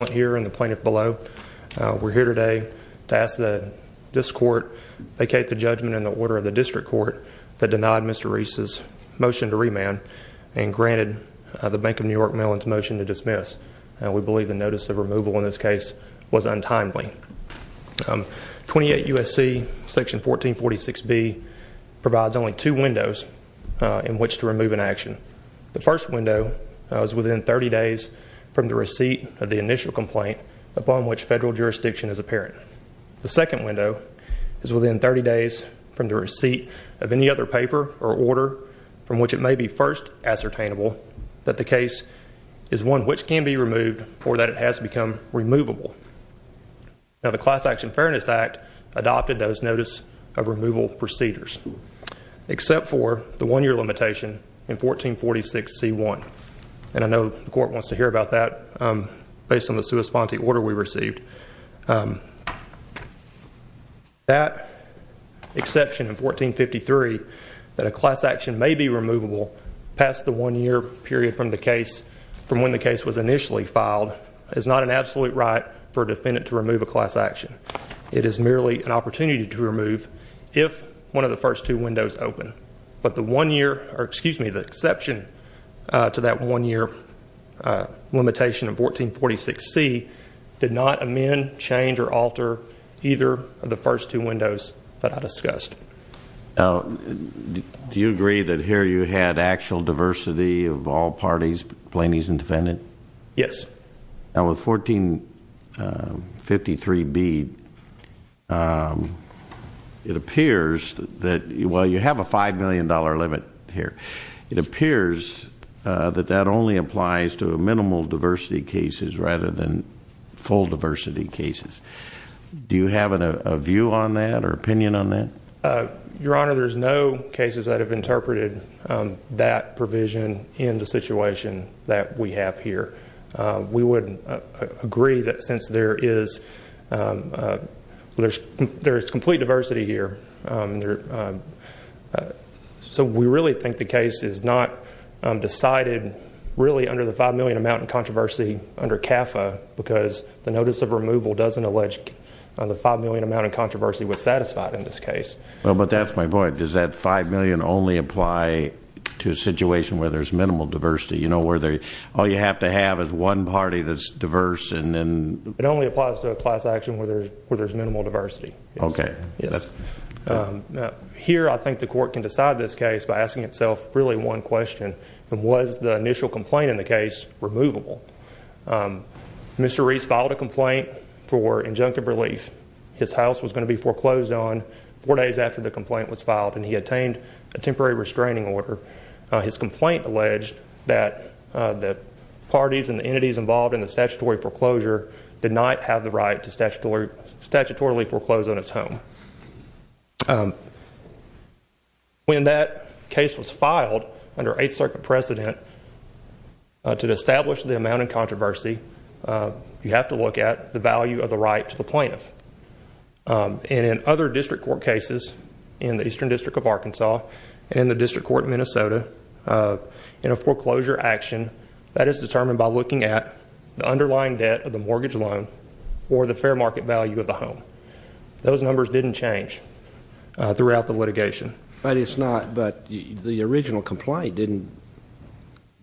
We're here today to ask that this court vacate the judgment in the order of the district court that denied Mr. Reece's motion to remand and granted the Bank of New York Mellon's motion to dismiss. We believe the notice of removal in this case was untimely. 28 U.S.C. section 1446B provides only two windows in which to remove an action. The first window is within 30 days from the receipt of the initial complaint upon which federal jurisdiction is apparent. The second window is within 30 days from the receipt of any other paper or order from which it may be first ascertainable that the case is one which can be removed or that it has become removable. Now the Class Action Fairness Act adopted those notice of removal procedures, except for the one year limitation in 1446C1. And I know the court wants to hear about that based on the corresponding order we received. That exception in 1453, that a class action may be removable past the one year period from the case, from when the case was initially filed, is not an absolute right for a defendant to remove a class action. It is merely an opportunity to remove if one of the first two windows open. But the one year, or excuse me, the exception to that one year limitation of 1446C did not amend, change, or alter either of the first two windows that I discussed. Do you agree that here you had actual diversity of all parties, plaintiffs and defendants? Yes. Now with 1453B, it appears that, well you have a $5 million limit here. It appears that that only applies to minimal diversity cases rather than full diversity cases. Do you have a view on that or opinion on that? Your Honor, there's no cases that have interpreted that provision in the situation that we have here. We would agree that since there is complete diversity here, so we really think the case is not decided really under the $5 million amount in controversy under CAFA, because the notice of removal doesn't allege the $5 million amount in controversy was satisfied in this case. Well, but that's my point. Does that $5 million only apply to a situation where there's minimal diversity? You know, where all you have to have is one party that's diverse and then- It only applies to a class action where there's minimal diversity. Okay. Yes. Here I think the court can decide this case by asking itself really one question. Was the initial complaint in the case removable? Mr. Reese filed a complaint for injunctive relief. His house was going to be foreclosed on four days after the complaint was filed and he attained a temporary restraining order. His complaint alleged that the parties and the entities involved in the statutory foreclosure did not have the right to statutorily foreclose on his home. When that case was filed under Eighth Circuit precedent to establish the amount in controversy, you have to look at the value of the right to the plaintiff. And in other district court cases in the Eastern District of Arkansas and in the district court in Minnesota, in a foreclosure action, that is determined by looking at the underlying debt of the mortgage loan or the fair market value of the home. Those numbers didn't change throughout the litigation. But it's not, but the original complaint didn't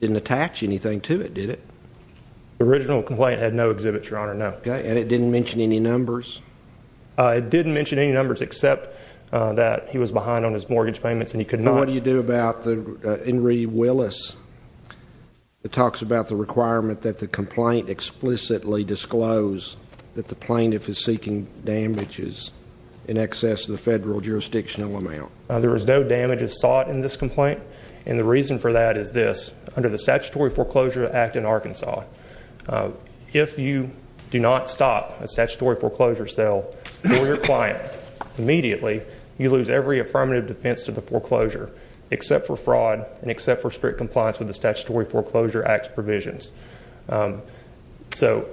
attach anything to it, did it? The original complaint had no exhibits, Your Honor, no. And it didn't mention any numbers? It didn't mention any numbers except that he was behind on his mortgage payments and he could not. And what do you do about the Henry Willis? It talks about the requirement that the complaint explicitly disclose that the plaintiff is seeking damages in excess of the federal jurisdictional amount. There was no damages sought in this complaint. And the reason for that is this. Under the Statutory Foreclosure Act in Arkansas, if you do not stop a statutory foreclosure sale for your client immediately, you lose every affirmative defense to the foreclosure except for fraud and except for strict compliance with the Statutory Foreclosure Act's provisions. So,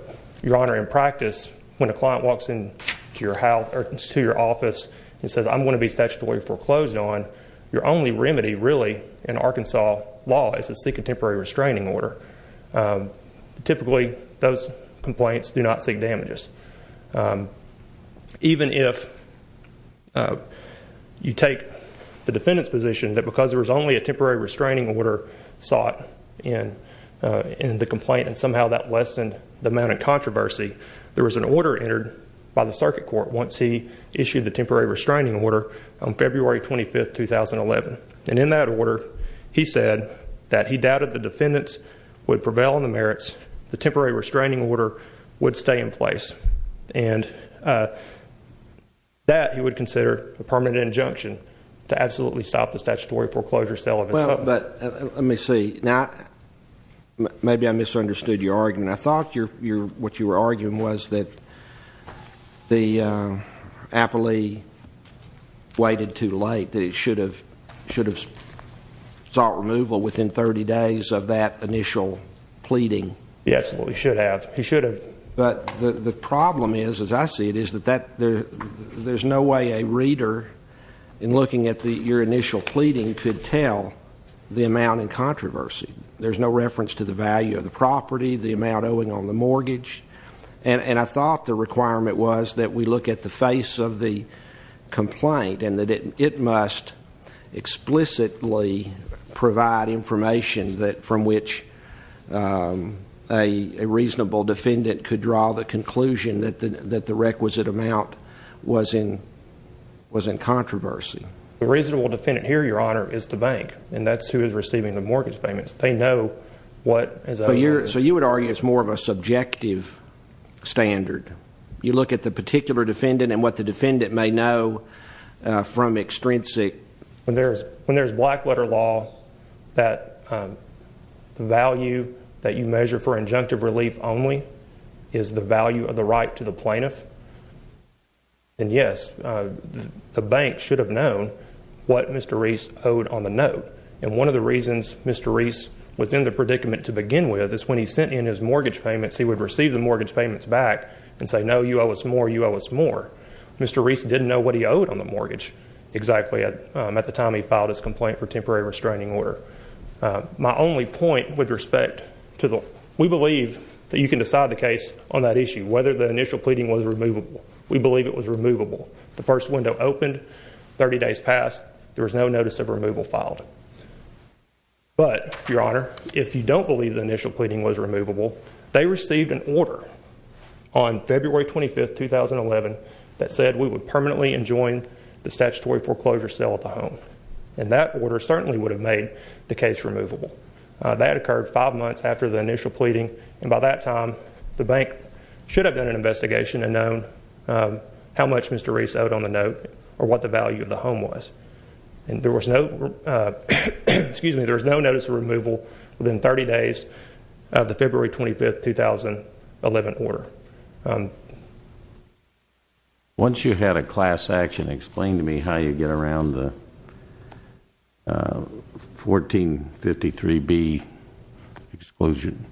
Your Honor, in practice, when a client walks into your office and says, I'm going to be statutorily foreclosed on, your only remedy really in Arkansas law is to seek a temporary restraining order. Typically, those complaints do not seek damages. Even if you take the defendant's position that because there was only a temporary restraining order sought in the complaint and somehow that lessened the amount of controversy, there was an order entered by the circuit court once he issued the temporary restraining order on February 25, 2011. And in that order, he said that he doubted the defendants would prevail on the merits. The temporary restraining order would stay in place. And that he would consider a permanent injunction to absolutely stop the statutory foreclosure sale of his home. Well, but let me see. Now, maybe I misunderstood your argument. I thought what you were arguing was that the appellee waited too late, that he should have sought removal within 30 days of that initial pleading. Yes, he should have. He should have. But the problem is, as I see it, is that there's no way a reader in looking at your initial pleading could tell the amount in controversy. There's no reference to the value of the property, the amount owing on the mortgage. And I thought the requirement was that we look at the face of the complaint and that it must explicitly provide information from which a reasonable defendant could draw the conclusion that the requisite amount was in controversy. The reasonable defendant here, Your Honor, is the bank. And that's who is receiving the mortgage payments. They know what is owed. So you would argue it's more of a subjective standard. You look at the particular defendant and what the defendant may know from extrinsic. When there's black letter law, that value that you measure for injunctive relief only is the value of the right to the plaintiff. And, yes, the bank should have known what Mr. Reese owed on the note. And one of the reasons Mr. Reese was in the predicament to begin with is when he sent in his mortgage payments, he would receive the mortgage payments back and say, no, you owe us more, you owe us more. Mr. Reese didn't know what he owed on the mortgage exactly at the time he filed his complaint for temporary restraining order. My only point with respect to the, we believe that you can decide the case on that issue, whether the initial pleading was removable. We believe it was removable. The first window opened, 30 days passed, there was no notice of removal filed. But, Your Honor, if you don't believe the initial pleading was removable, they received an order on February 25, 2011, that said we would permanently enjoin the statutory foreclosure sale of the home. And that order certainly would have made the case removable. That occurred five months after the initial pleading. And by that time, the bank should have done an investigation and known how much Mr. Reese owed on the note or what the value of the home was. And there was no, excuse me, there was no notice of removal within 30 days of the February 25, 2011 order. Once you had a class action, explain to me how you get around the 1453B exclusion.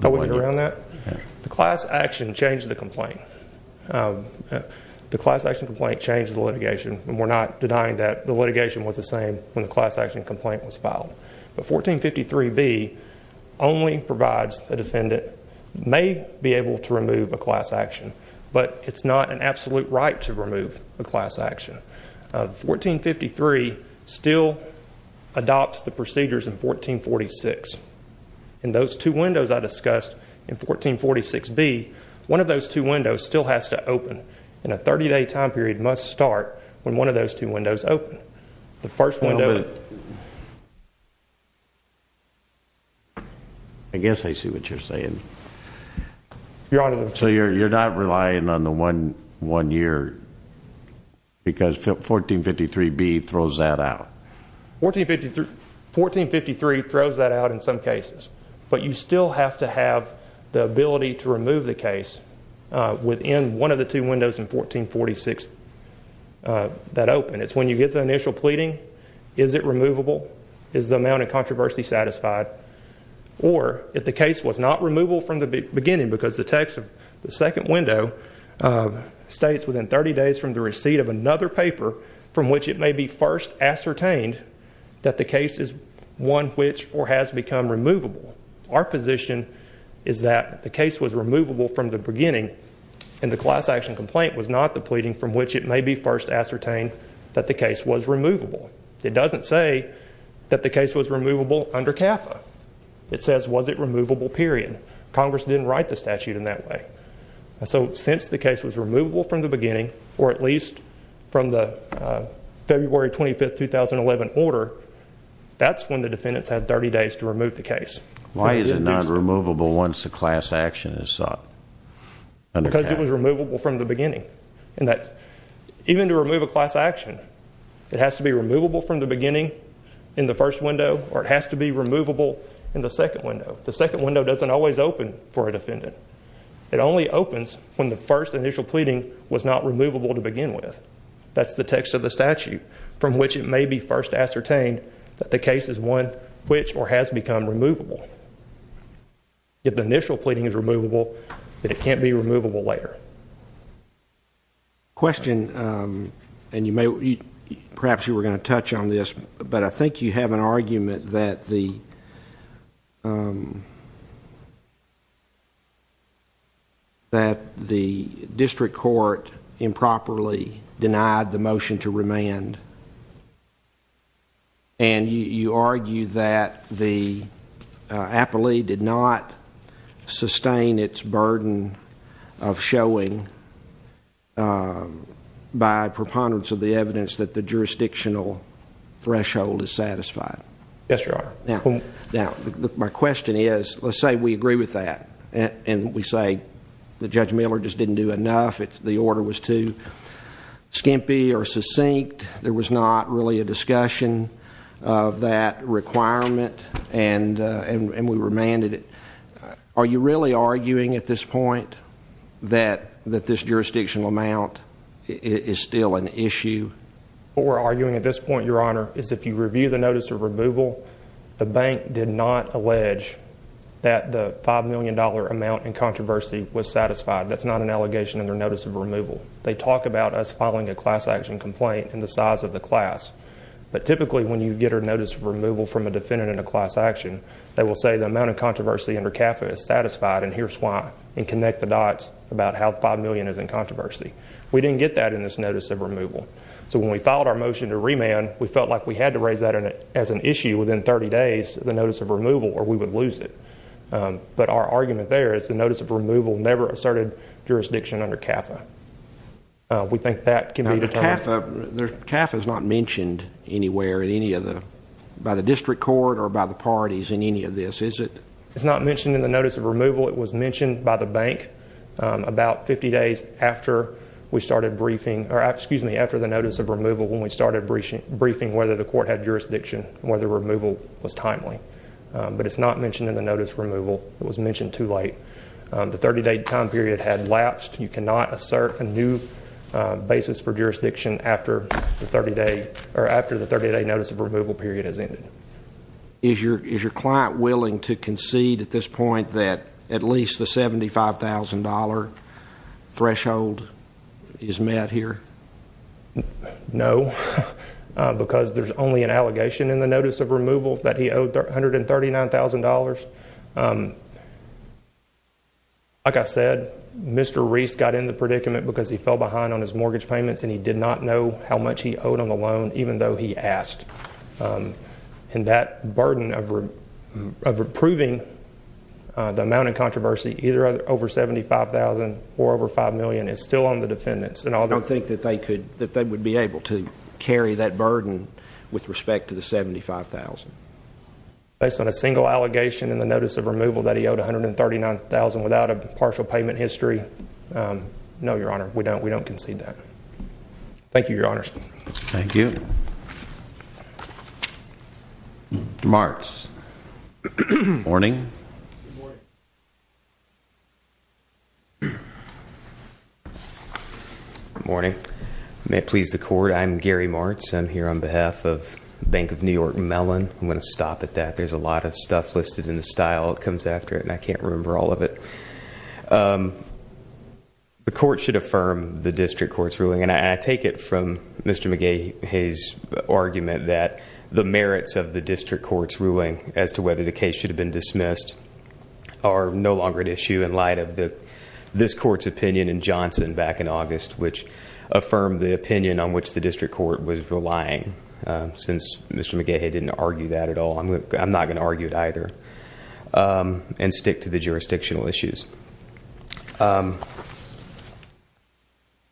How we get around that? The class action changed the complaint. The class action complaint changed the litigation. And we're not denying that the litigation was the same when the class action complaint was filed. But 1453B only provides the defendant may be able to remove a class action. But it's not an absolute right to remove a class action. 1453 still adopts the procedures in 1446. In those two windows I discussed in 1446B, one of those two windows still has to open. And a 30-day time period must start when one of those two windows open. The first window. I guess I see what you're saying. Your Honor. So you're not relying on the one year because 1453B throws that out. 1453 throws that out in some cases. But you still have to have the ability to remove the case within one of the two windows in 1446 that open. It's when you get the initial pleading. Is it removable? Is the amount of controversy satisfied? Or if the case was not removable from the beginning because the text of the second window states within 30 days from the receipt of another paper from which it may be first ascertained that the case is one which or has become removable. Our position is that the case was removable from the beginning. And the class action complaint was not the pleading from which it may be first ascertained that the case was removable. It doesn't say that the case was removable under CAFA. It says was it removable period. Congress didn't write the statute in that way. So since the case was removable from the beginning or at least from the February 25, 2011 order, that's when the defendants had 30 days to remove the case. Why is it not removable once the class action is sought? Because it was removable from the beginning. Even to remove a class action, it has to be removable from the beginning in the first window or it has to be removable in the second window. The second window doesn't always open for a defendant. It only opens when the first initial pleading was not removable to begin with. That's the text of the statute from which it may be first ascertained that the case is one which or has become removable. If the initial pleading is removable, then it can't be removable later. The question, and perhaps you were going to touch on this, but I think you have an argument that the district court improperly denied the motion to remand. And you argue that the appellee did not sustain its burden of showing by preponderance of the evidence that the jurisdictional threshold is satisfied. Yes, Your Honor. Now, my question is, let's say we agree with that and we say that Judge Miller just didn't do enough, the order was too skimpy or succinct. There was not really a discussion of that requirement and we remanded it. Are you really arguing at this point that this jurisdictional amount is still an issue? What we're arguing at this point, Your Honor, is if you review the notice of removal, the bank did not allege that the $5 million amount in controversy was satisfied. That's not an allegation under notice of removal. They talk about us filing a class action complaint in the size of the class, but typically when you get a notice of removal from a defendant in a class action, they will say the amount of controversy under CAFA is satisfied and here's why, and connect the dots about how $5 million is in controversy. We didn't get that in this notice of removal. So when we filed our motion to remand, we felt like we had to raise that as an issue within 30 days, the notice of removal, or we would lose it. But our argument there is the notice of removal never asserted jurisdiction under CAFA. We think that can be determined. CAFA is not mentioned anywhere in any of the, by the district court or by the parties in any of this, is it? It's not mentioned in the notice of removal. It was mentioned by the bank about 50 days after we started briefing, or excuse me, after the notice of removal when we started briefing whether the court had jurisdiction and whether removal was timely. But it's not mentioned in the notice of removal. It was mentioned too late. The 30-day time period had lapsed. You cannot assert a new basis for jurisdiction after the 30-day, or after the 30-day notice of removal period has ended. Is your client willing to concede at this point that at least the $75,000 threshold is met here? No, because there's only an allegation in the notice of removal that he owed $139,000. Like I said, Mr. Reese got in the predicament because he fell behind on his mortgage payments, and he did not know how much he owed on the loan, even though he asked. And that burden of approving the amount of controversy, either over $75,000 or over $5 million, is still on the defendants. I don't think that they would be able to carry that burden with respect to the $75,000. Based on a single allegation in the notice of removal that he owed $139,000 without a partial payment history, no, Your Honor, we don't concede that. Thank you, Your Honors. Thank you. Mr. Martz. Good morning. Good morning. Good morning. May it please the court, I'm Gary Martz. I'm here on behalf of Bank of New York Mellon. I'm going to stop at that. There's a lot of stuff listed in the style that comes after it, and I can't remember all of it. The court should affirm the district court's ruling, and I take it from Mr. McGay-Hayes' argument that the merits of the district court's ruling as to whether the case should have been dismissed are no longer at issue in light of this court's opinion in Johnson back in August, which affirmed the opinion on which the district court was relying. Since Mr. McGay-Hayes didn't argue that at all, I'm not going to argue it either and stick to the jurisdictional issues.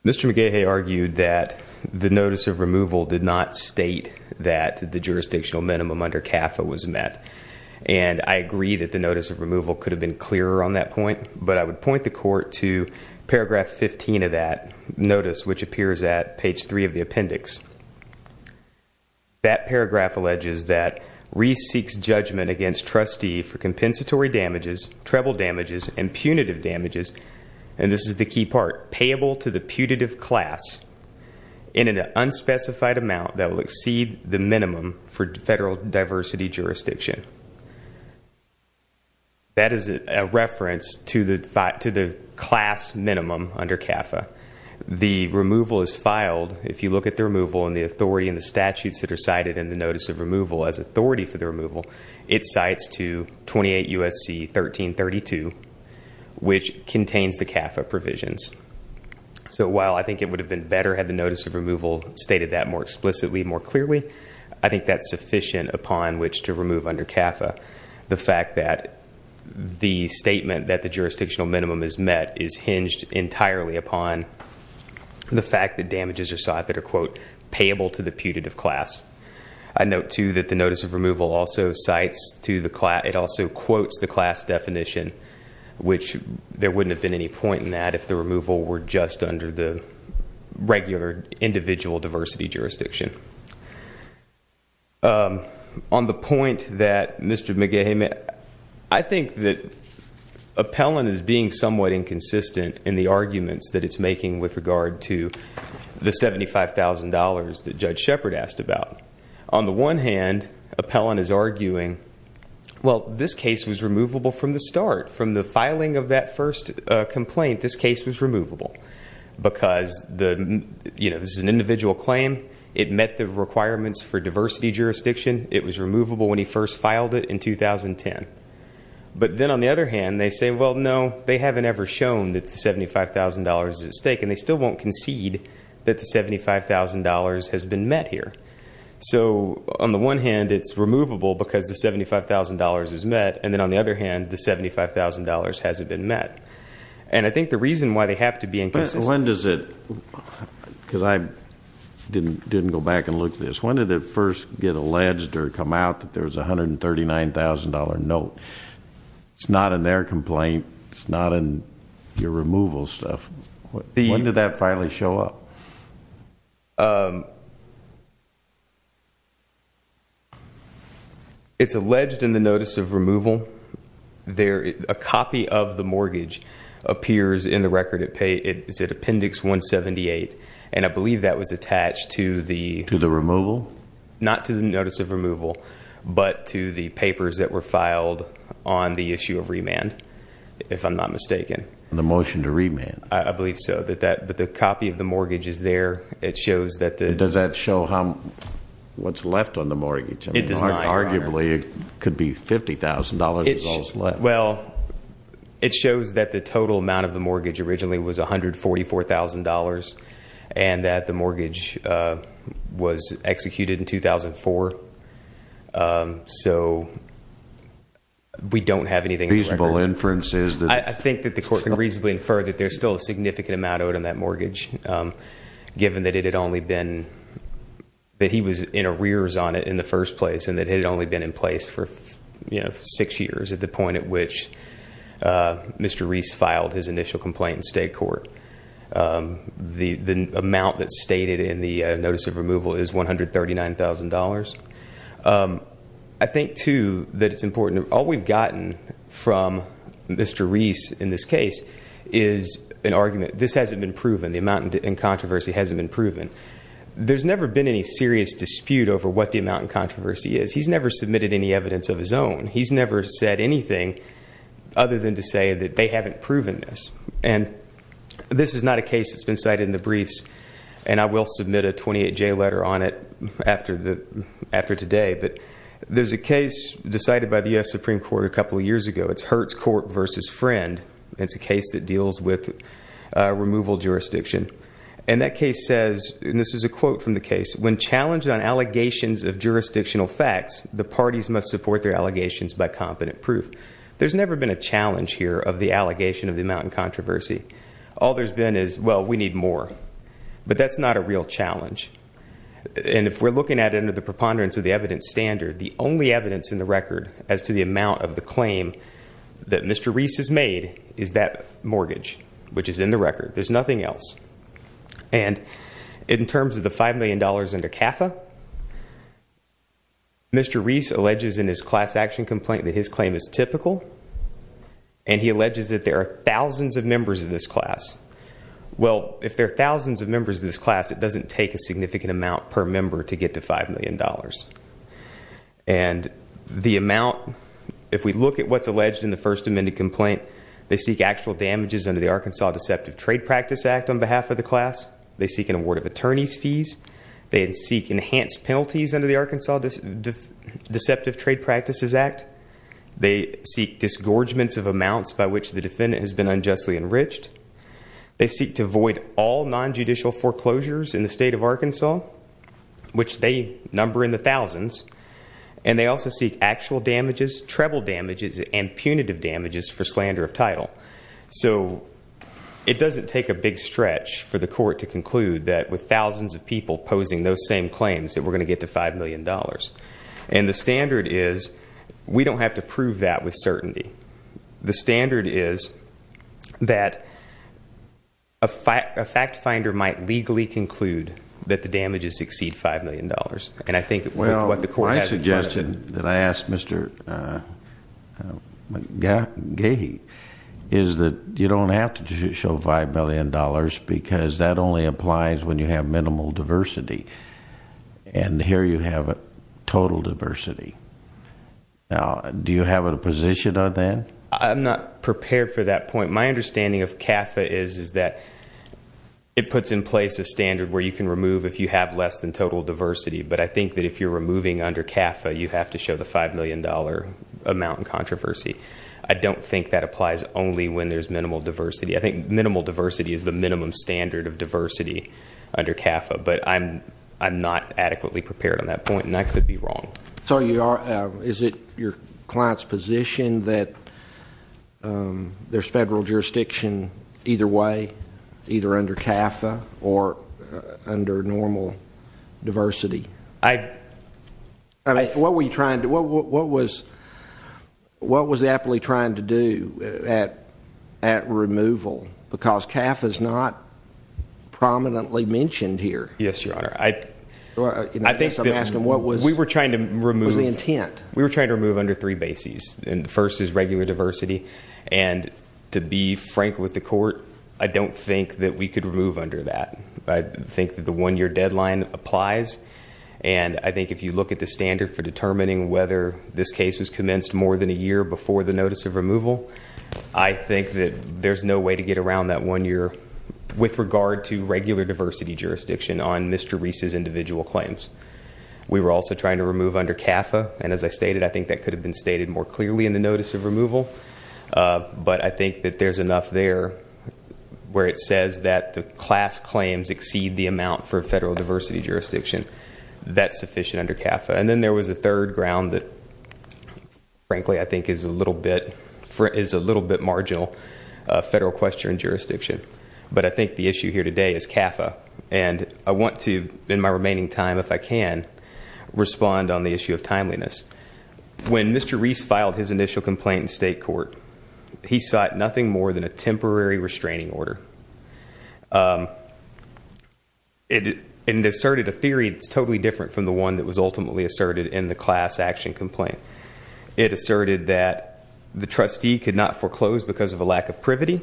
Mr. McGay-Hayes argued that the notice of removal did not state that the jurisdictional minimum under CAFA was met, and I agree that the notice of removal could have been clearer on that point, but I would point the court to paragraph 15 of that notice, which appears at page 3 of the appendix. That paragraph alleges that Reese seeks judgment against trustee for compensatory damages, treble damages, and punitive damages, and this is the key part, payable to the putative class in an unspecified amount that will exceed the minimum for federal diversity jurisdiction. That is a reference to the class minimum under CAFA. The removal is filed, if you look at the removal and the authority and the statutes that are cited in the notice of removal as authority for the removal, it cites to 28 U.S.C. 1332, which contains the CAFA provisions. So while I think it would have been better had the notice of removal stated that more explicitly, more clearly, I think that's sufficient upon which to remove under CAFA the fact that the statement that the jurisdictional minimum is met is hinged entirely upon the fact that damages are sought that are, quote, payable to the putative class. I note, too, that the notice of removal also cites to the class, it also quotes the class definition, which there wouldn't have been any point in that if the removal were just under the regular individual diversity jurisdiction. On the point that Mr. McGehan made, I think that Appellant is being somewhat inconsistent in the arguments that it's making with regard to the $75,000 that Judge Shepard asked about. On the one hand, Appellant is arguing, well, this case was removable from the start. From the filing of that first complaint, this case was removable because this is an individual claim. It met the requirements for diversity jurisdiction. It was removable when he first filed it in 2010. But then on the other hand, they say, well, no, they haven't ever shown that the $75,000 is at stake, and they still won't concede that the $75,000 has been met here. So on the one hand, it's removable because the $75,000 is met, and then on the other hand, the $75,000 hasn't been met. And I think the reason why they have to be inconsistent. When does it, because I didn't go back and look at this, when did it first get alleged or come out that there was a $139,000 note? It's not in their complaint. It's not in your removal stuff. When did that finally show up? It's alleged in the notice of removal. A copy of the mortgage appears in the record. It's at appendix 178, and I believe that was attached to the- To the removal? Not to the notice of removal, but to the papers that were filed on the issue of remand, if I'm not mistaken. The motion to remand. I believe so. But the copy of the mortgage is there. It shows that the- Does that show what's left on the mortgage? It does not, Your Honor. Arguably, it could be $50,000 is all that's left. Well, it shows that the total amount of the mortgage originally was $144,000, and that the mortgage was executed in 2004. So we don't have anything in the record. Reasonable inference is that- Given that it had only been-that he was in arrears on it in the first place and that it had only been in place for six years, at the point at which Mr. Reese filed his initial complaint in state court. The amount that's stated in the notice of removal is $139,000. I think, too, that it's important. All we've gotten from Mr. Reese in this case is an argument. This hasn't been proven. The amount in controversy hasn't been proven. There's never been any serious dispute over what the amount in controversy is. He's never submitted any evidence of his own. He's never said anything other than to say that they haven't proven this. And this is not a case that's been cited in the briefs, and I will submit a 28-J letter on it after today. But there's a case decided by the U.S. Supreme Court a couple of years ago. It's Hertz Court v. Friend. It's a case that deals with removal jurisdiction. And that case says, and this is a quote from the case, when challenged on allegations of jurisdictional facts, the parties must support their allegations by competent proof. There's never been a challenge here of the allegation of the amount in controversy. All there's been is, well, we need more. But that's not a real challenge. And if we're looking at it under the preponderance of the evidence standard, the only evidence in the record as to the amount of the claim that Mr. Reese has made is that mortgage, which is in the record. There's nothing else. And in terms of the $5 million under CAFA, Mr. Reese alleges in his class action complaint that his claim is typical, and he alleges that there are thousands of members of this class. Well, if there are thousands of members of this class, it doesn't take a significant amount per member to get to $5 million. And the amount, if we look at what's alleged in the First Amendment complaint, they seek actual damages under the Arkansas Deceptive Trade Practice Act on behalf of the class. They seek an award of attorney's fees. They seek enhanced penalties under the Arkansas Deceptive Trade Practices Act. They seek disgorgements of amounts by which the defendant has been unjustly enriched. They seek to void all nonjudicial foreclosures in the state of Arkansas, which they number in the thousands. And they also seek actual damages, treble damages, and punitive damages for slander of title. So it doesn't take a big stretch for the court to conclude that with thousands of people posing those same claims that we're going to get to $5 million. And the standard is we don't have to prove that with certainty. The standard is that a fact finder might legally conclude that the damages exceed $5 million. And I think with what the court has in front of it. My suggestion that I ask Mr. Gahee is that you don't have to show $5 million because that only applies when you have minimal diversity. And here you have total diversity. Do you have a position on that? I'm not prepared for that point. My understanding of CAFA is that it puts in place a standard where you can remove if you have less than total diversity. But I think that if you're removing under CAFA, you have to show the $5 million amount in controversy. I don't think that applies only when there's minimal diversity. I think minimal diversity is the minimum standard of diversity under CAFA. But I'm not adequately prepared on that point, and I could be wrong. So is it your client's position that there's federal jurisdiction either way, either under CAFA or under normal diversity? What was Appley trying to do at removal? Because CAFA is not prominently mentioned here. Yes, Your Honor. I think that we were trying to remove- What was the intent? We were trying to remove under three bases. And the first is regular diversity. And to be frank with the court, I don't think that we could remove under that. I think that the one-year deadline applies. And I think if you look at the standard for determining whether this case was commenced more than a year before the notice of removal, I think that there's no way to get around that one year with regard to regular diversity jurisdiction on Mr. Reese's individual claims. We were also trying to remove under CAFA. And as I stated, I think that could have been stated more clearly in the notice of removal. But I think that there's enough there where it says that the class claims exceed the amount for federal diversity jurisdiction. That's sufficient under CAFA. And then there was a third ground that, frankly, I think is a little bit marginal, federal question jurisdiction. But I think the issue here today is CAFA. And I want to, in my remaining time if I can, respond on the issue of timeliness. When Mr. Reese filed his initial complaint in state court, he sought nothing more than a temporary restraining order. It asserted a theory that's totally different from the one that was ultimately asserted in the class action complaint. It asserted that the trustee could not foreclose because of a lack of privity.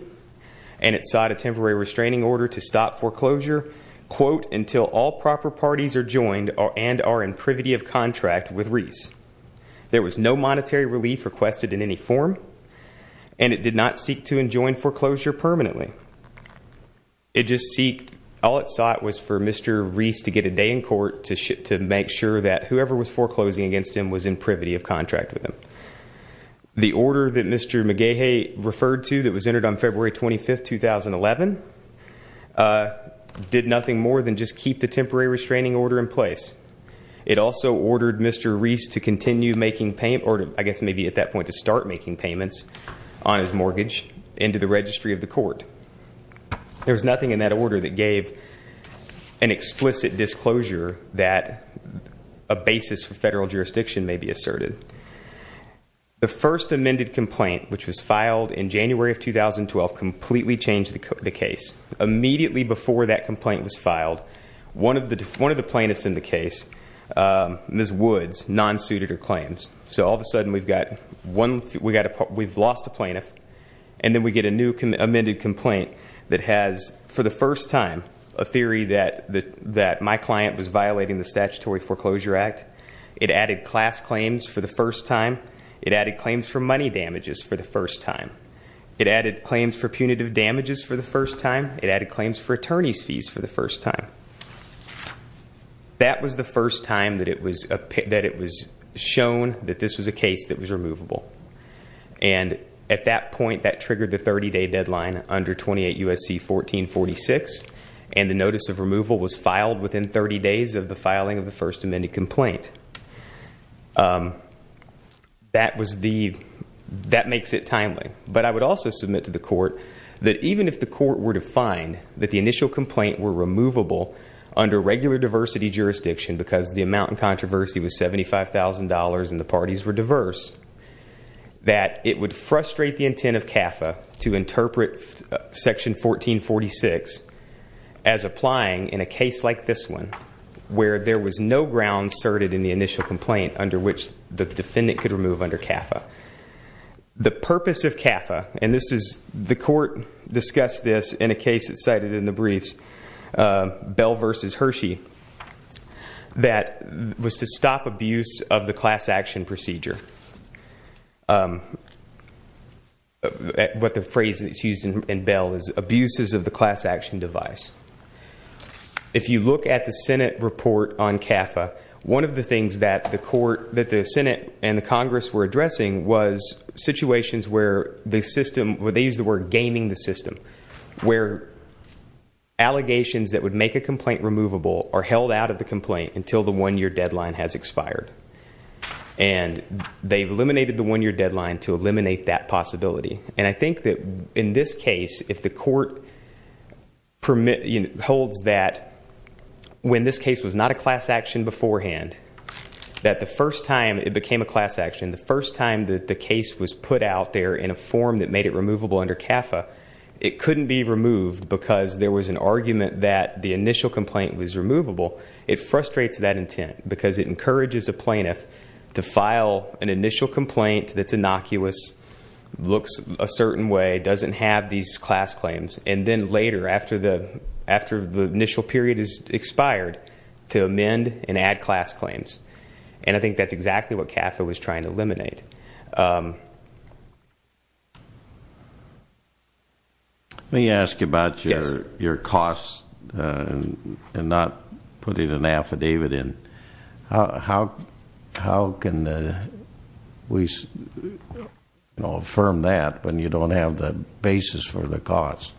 And it sought a temporary restraining order to stop foreclosure, quote, until all proper parties are joined and are in privity of contract with Reese. There was no monetary relief requested in any form. And it did not seek to enjoin foreclosure permanently. It just seeked, all it sought was for Mr. Reese to get a day in court to make sure that whoever was foreclosing against him was in privity of contract with him. The order that Mr. McGehee referred to that was entered on February 25, 2011, did nothing more than just keep the temporary restraining order in place. It also ordered Mr. Reese to continue making payments, or I guess maybe at that point to start making payments on his mortgage into the registry of the court. There was nothing in that order that gave an explicit disclosure that a basis for federal jurisdiction may be asserted. The first amended complaint, which was filed in January of 2012, completely changed the case. Immediately before that complaint was filed, one of the plaintiffs in the case, Ms. Woods, non-suited her claims. So all of a sudden, we've lost a plaintiff. And then we get a new amended complaint that has, for the first time, a theory that my client was violating the Statutory Foreclosure Act. It added class claims for the first time. It added claims for money damages for the first time. It added claims for punitive damages for the first time. It added claims for attorney's fees for the first time. That was the first time that it was shown that this was a case that was removable. And at that point, that triggered the 30-day deadline under 28 U.S.C. 1446. And the notice of removal was filed within 30 days of the filing of the first amended complaint. That makes it timely. But I would also submit to the court that even if the court were to find that the initial complaint were removable under regular diversity jurisdiction, because the amount in controversy was $75,000 and the parties were diverse, that it would frustrate the intent of CAFA to interpret Section 1446 as applying in a case like this one, where there was no ground asserted in the initial complaint under which the defendant could remove under CAFA. The purpose of CAFA, and the court discussed this in a case that's cited in the briefs, Bell v. Hershey, that was to stop abuse of the class action procedure. What the phrase that's used in Bell is abuses of the class action device. If you look at the Senate report on CAFA, one of the things that the Senate and the Congress were addressing was situations where they used the word gaming the system, where allegations that would make a complaint removable are held out of the complaint until the one-year deadline has expired. And they've eliminated the one-year deadline to eliminate that possibility. And I think that in this case, if the court holds that when this case was not a class action beforehand, that the first time it became a class action, the first time that the case was put out there in a form that made it removable under CAFA, it couldn't be removed because there was an argument that the initial complaint was removable, it frustrates that intent because it encourages a plaintiff to file an initial complaint that's innocuous, looks a certain way, doesn't have these class claims. And then later, after the initial period has expired, to amend and add class claims. And I think that's exactly what CAFA was trying to eliminate. Let me ask you about your costs and not putting an affidavit in. How can we affirm that when you don't have the basis for the cost?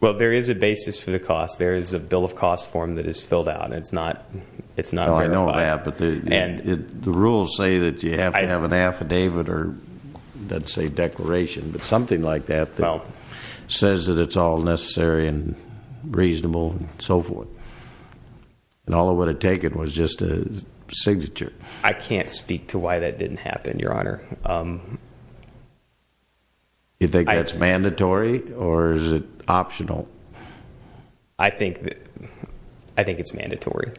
Well, there is a basis for the cost. There is a bill of cost form that is filled out. It's not verified. I know that, but the rules say that you have to have an affidavit. Affidavit or let's say declaration, but something like that that says that it's all necessary and reasonable and so forth. And all it would have taken was just a signature. I can't speak to why that didn't happen, Your Honor. You think that's mandatory or is it optional? I think it's mandatory.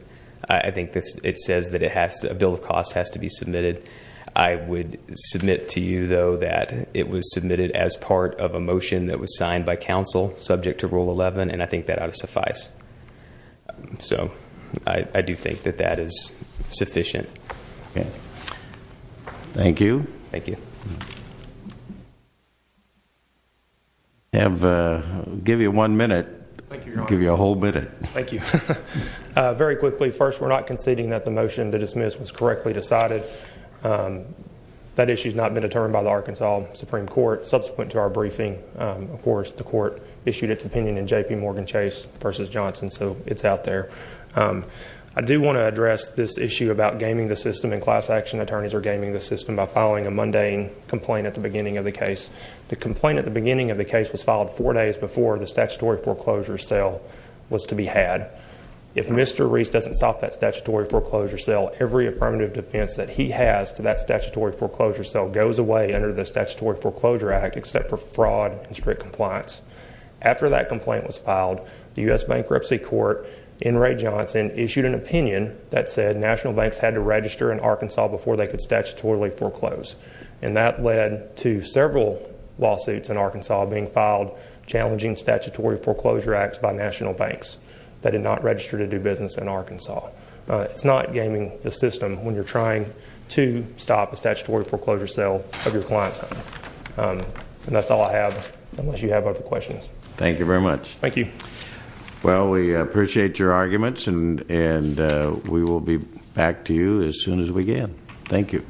I think it says that a bill of cost has to be submitted. I would submit to you, though, that it was submitted as part of a motion that was signed by counsel subject to Rule 11, and I think that ought to suffice. So I do think that that is sufficient. Okay. Thank you. Thank you. I'll give you one minute. Thank you, Your Honor. I'll give you a whole minute. Thank you. Very quickly, first, we're not conceding that the motion to dismiss was correctly decided. That issue has not been determined by the Arkansas Supreme Court. Subsequent to our briefing, of course, the court issued its opinion in JPMorgan Chase v. Johnson, so it's out there. I do want to address this issue about gaming the system, and class action attorneys are gaming the system by filing a mundane complaint at the beginning of the case. The complaint at the beginning of the case was filed four days before the statutory foreclosure sale was to be had. If Mr. Reese doesn't stop that statutory foreclosure sale, every affirmative defense that he has to that statutory foreclosure sale goes away under the Statutory Foreclosure Act, except for fraud and strict compliance. After that complaint was filed, the U.S. Bankruptcy Court, in Ray Johnson, issued an opinion that said national banks had to register in Arkansas before they could statutorily foreclose, and that led to several lawsuits in Arkansas being filed challenging statutory foreclosure acts by national banks that did not register to do business in Arkansas. It's not gaming the system when you're trying to stop a statutory foreclosure sale of your client's home. And that's all I have, unless you have other questions. Thank you very much. Thank you. Well, we appreciate your arguments, and we will be back to you as soon as we can. Thank you.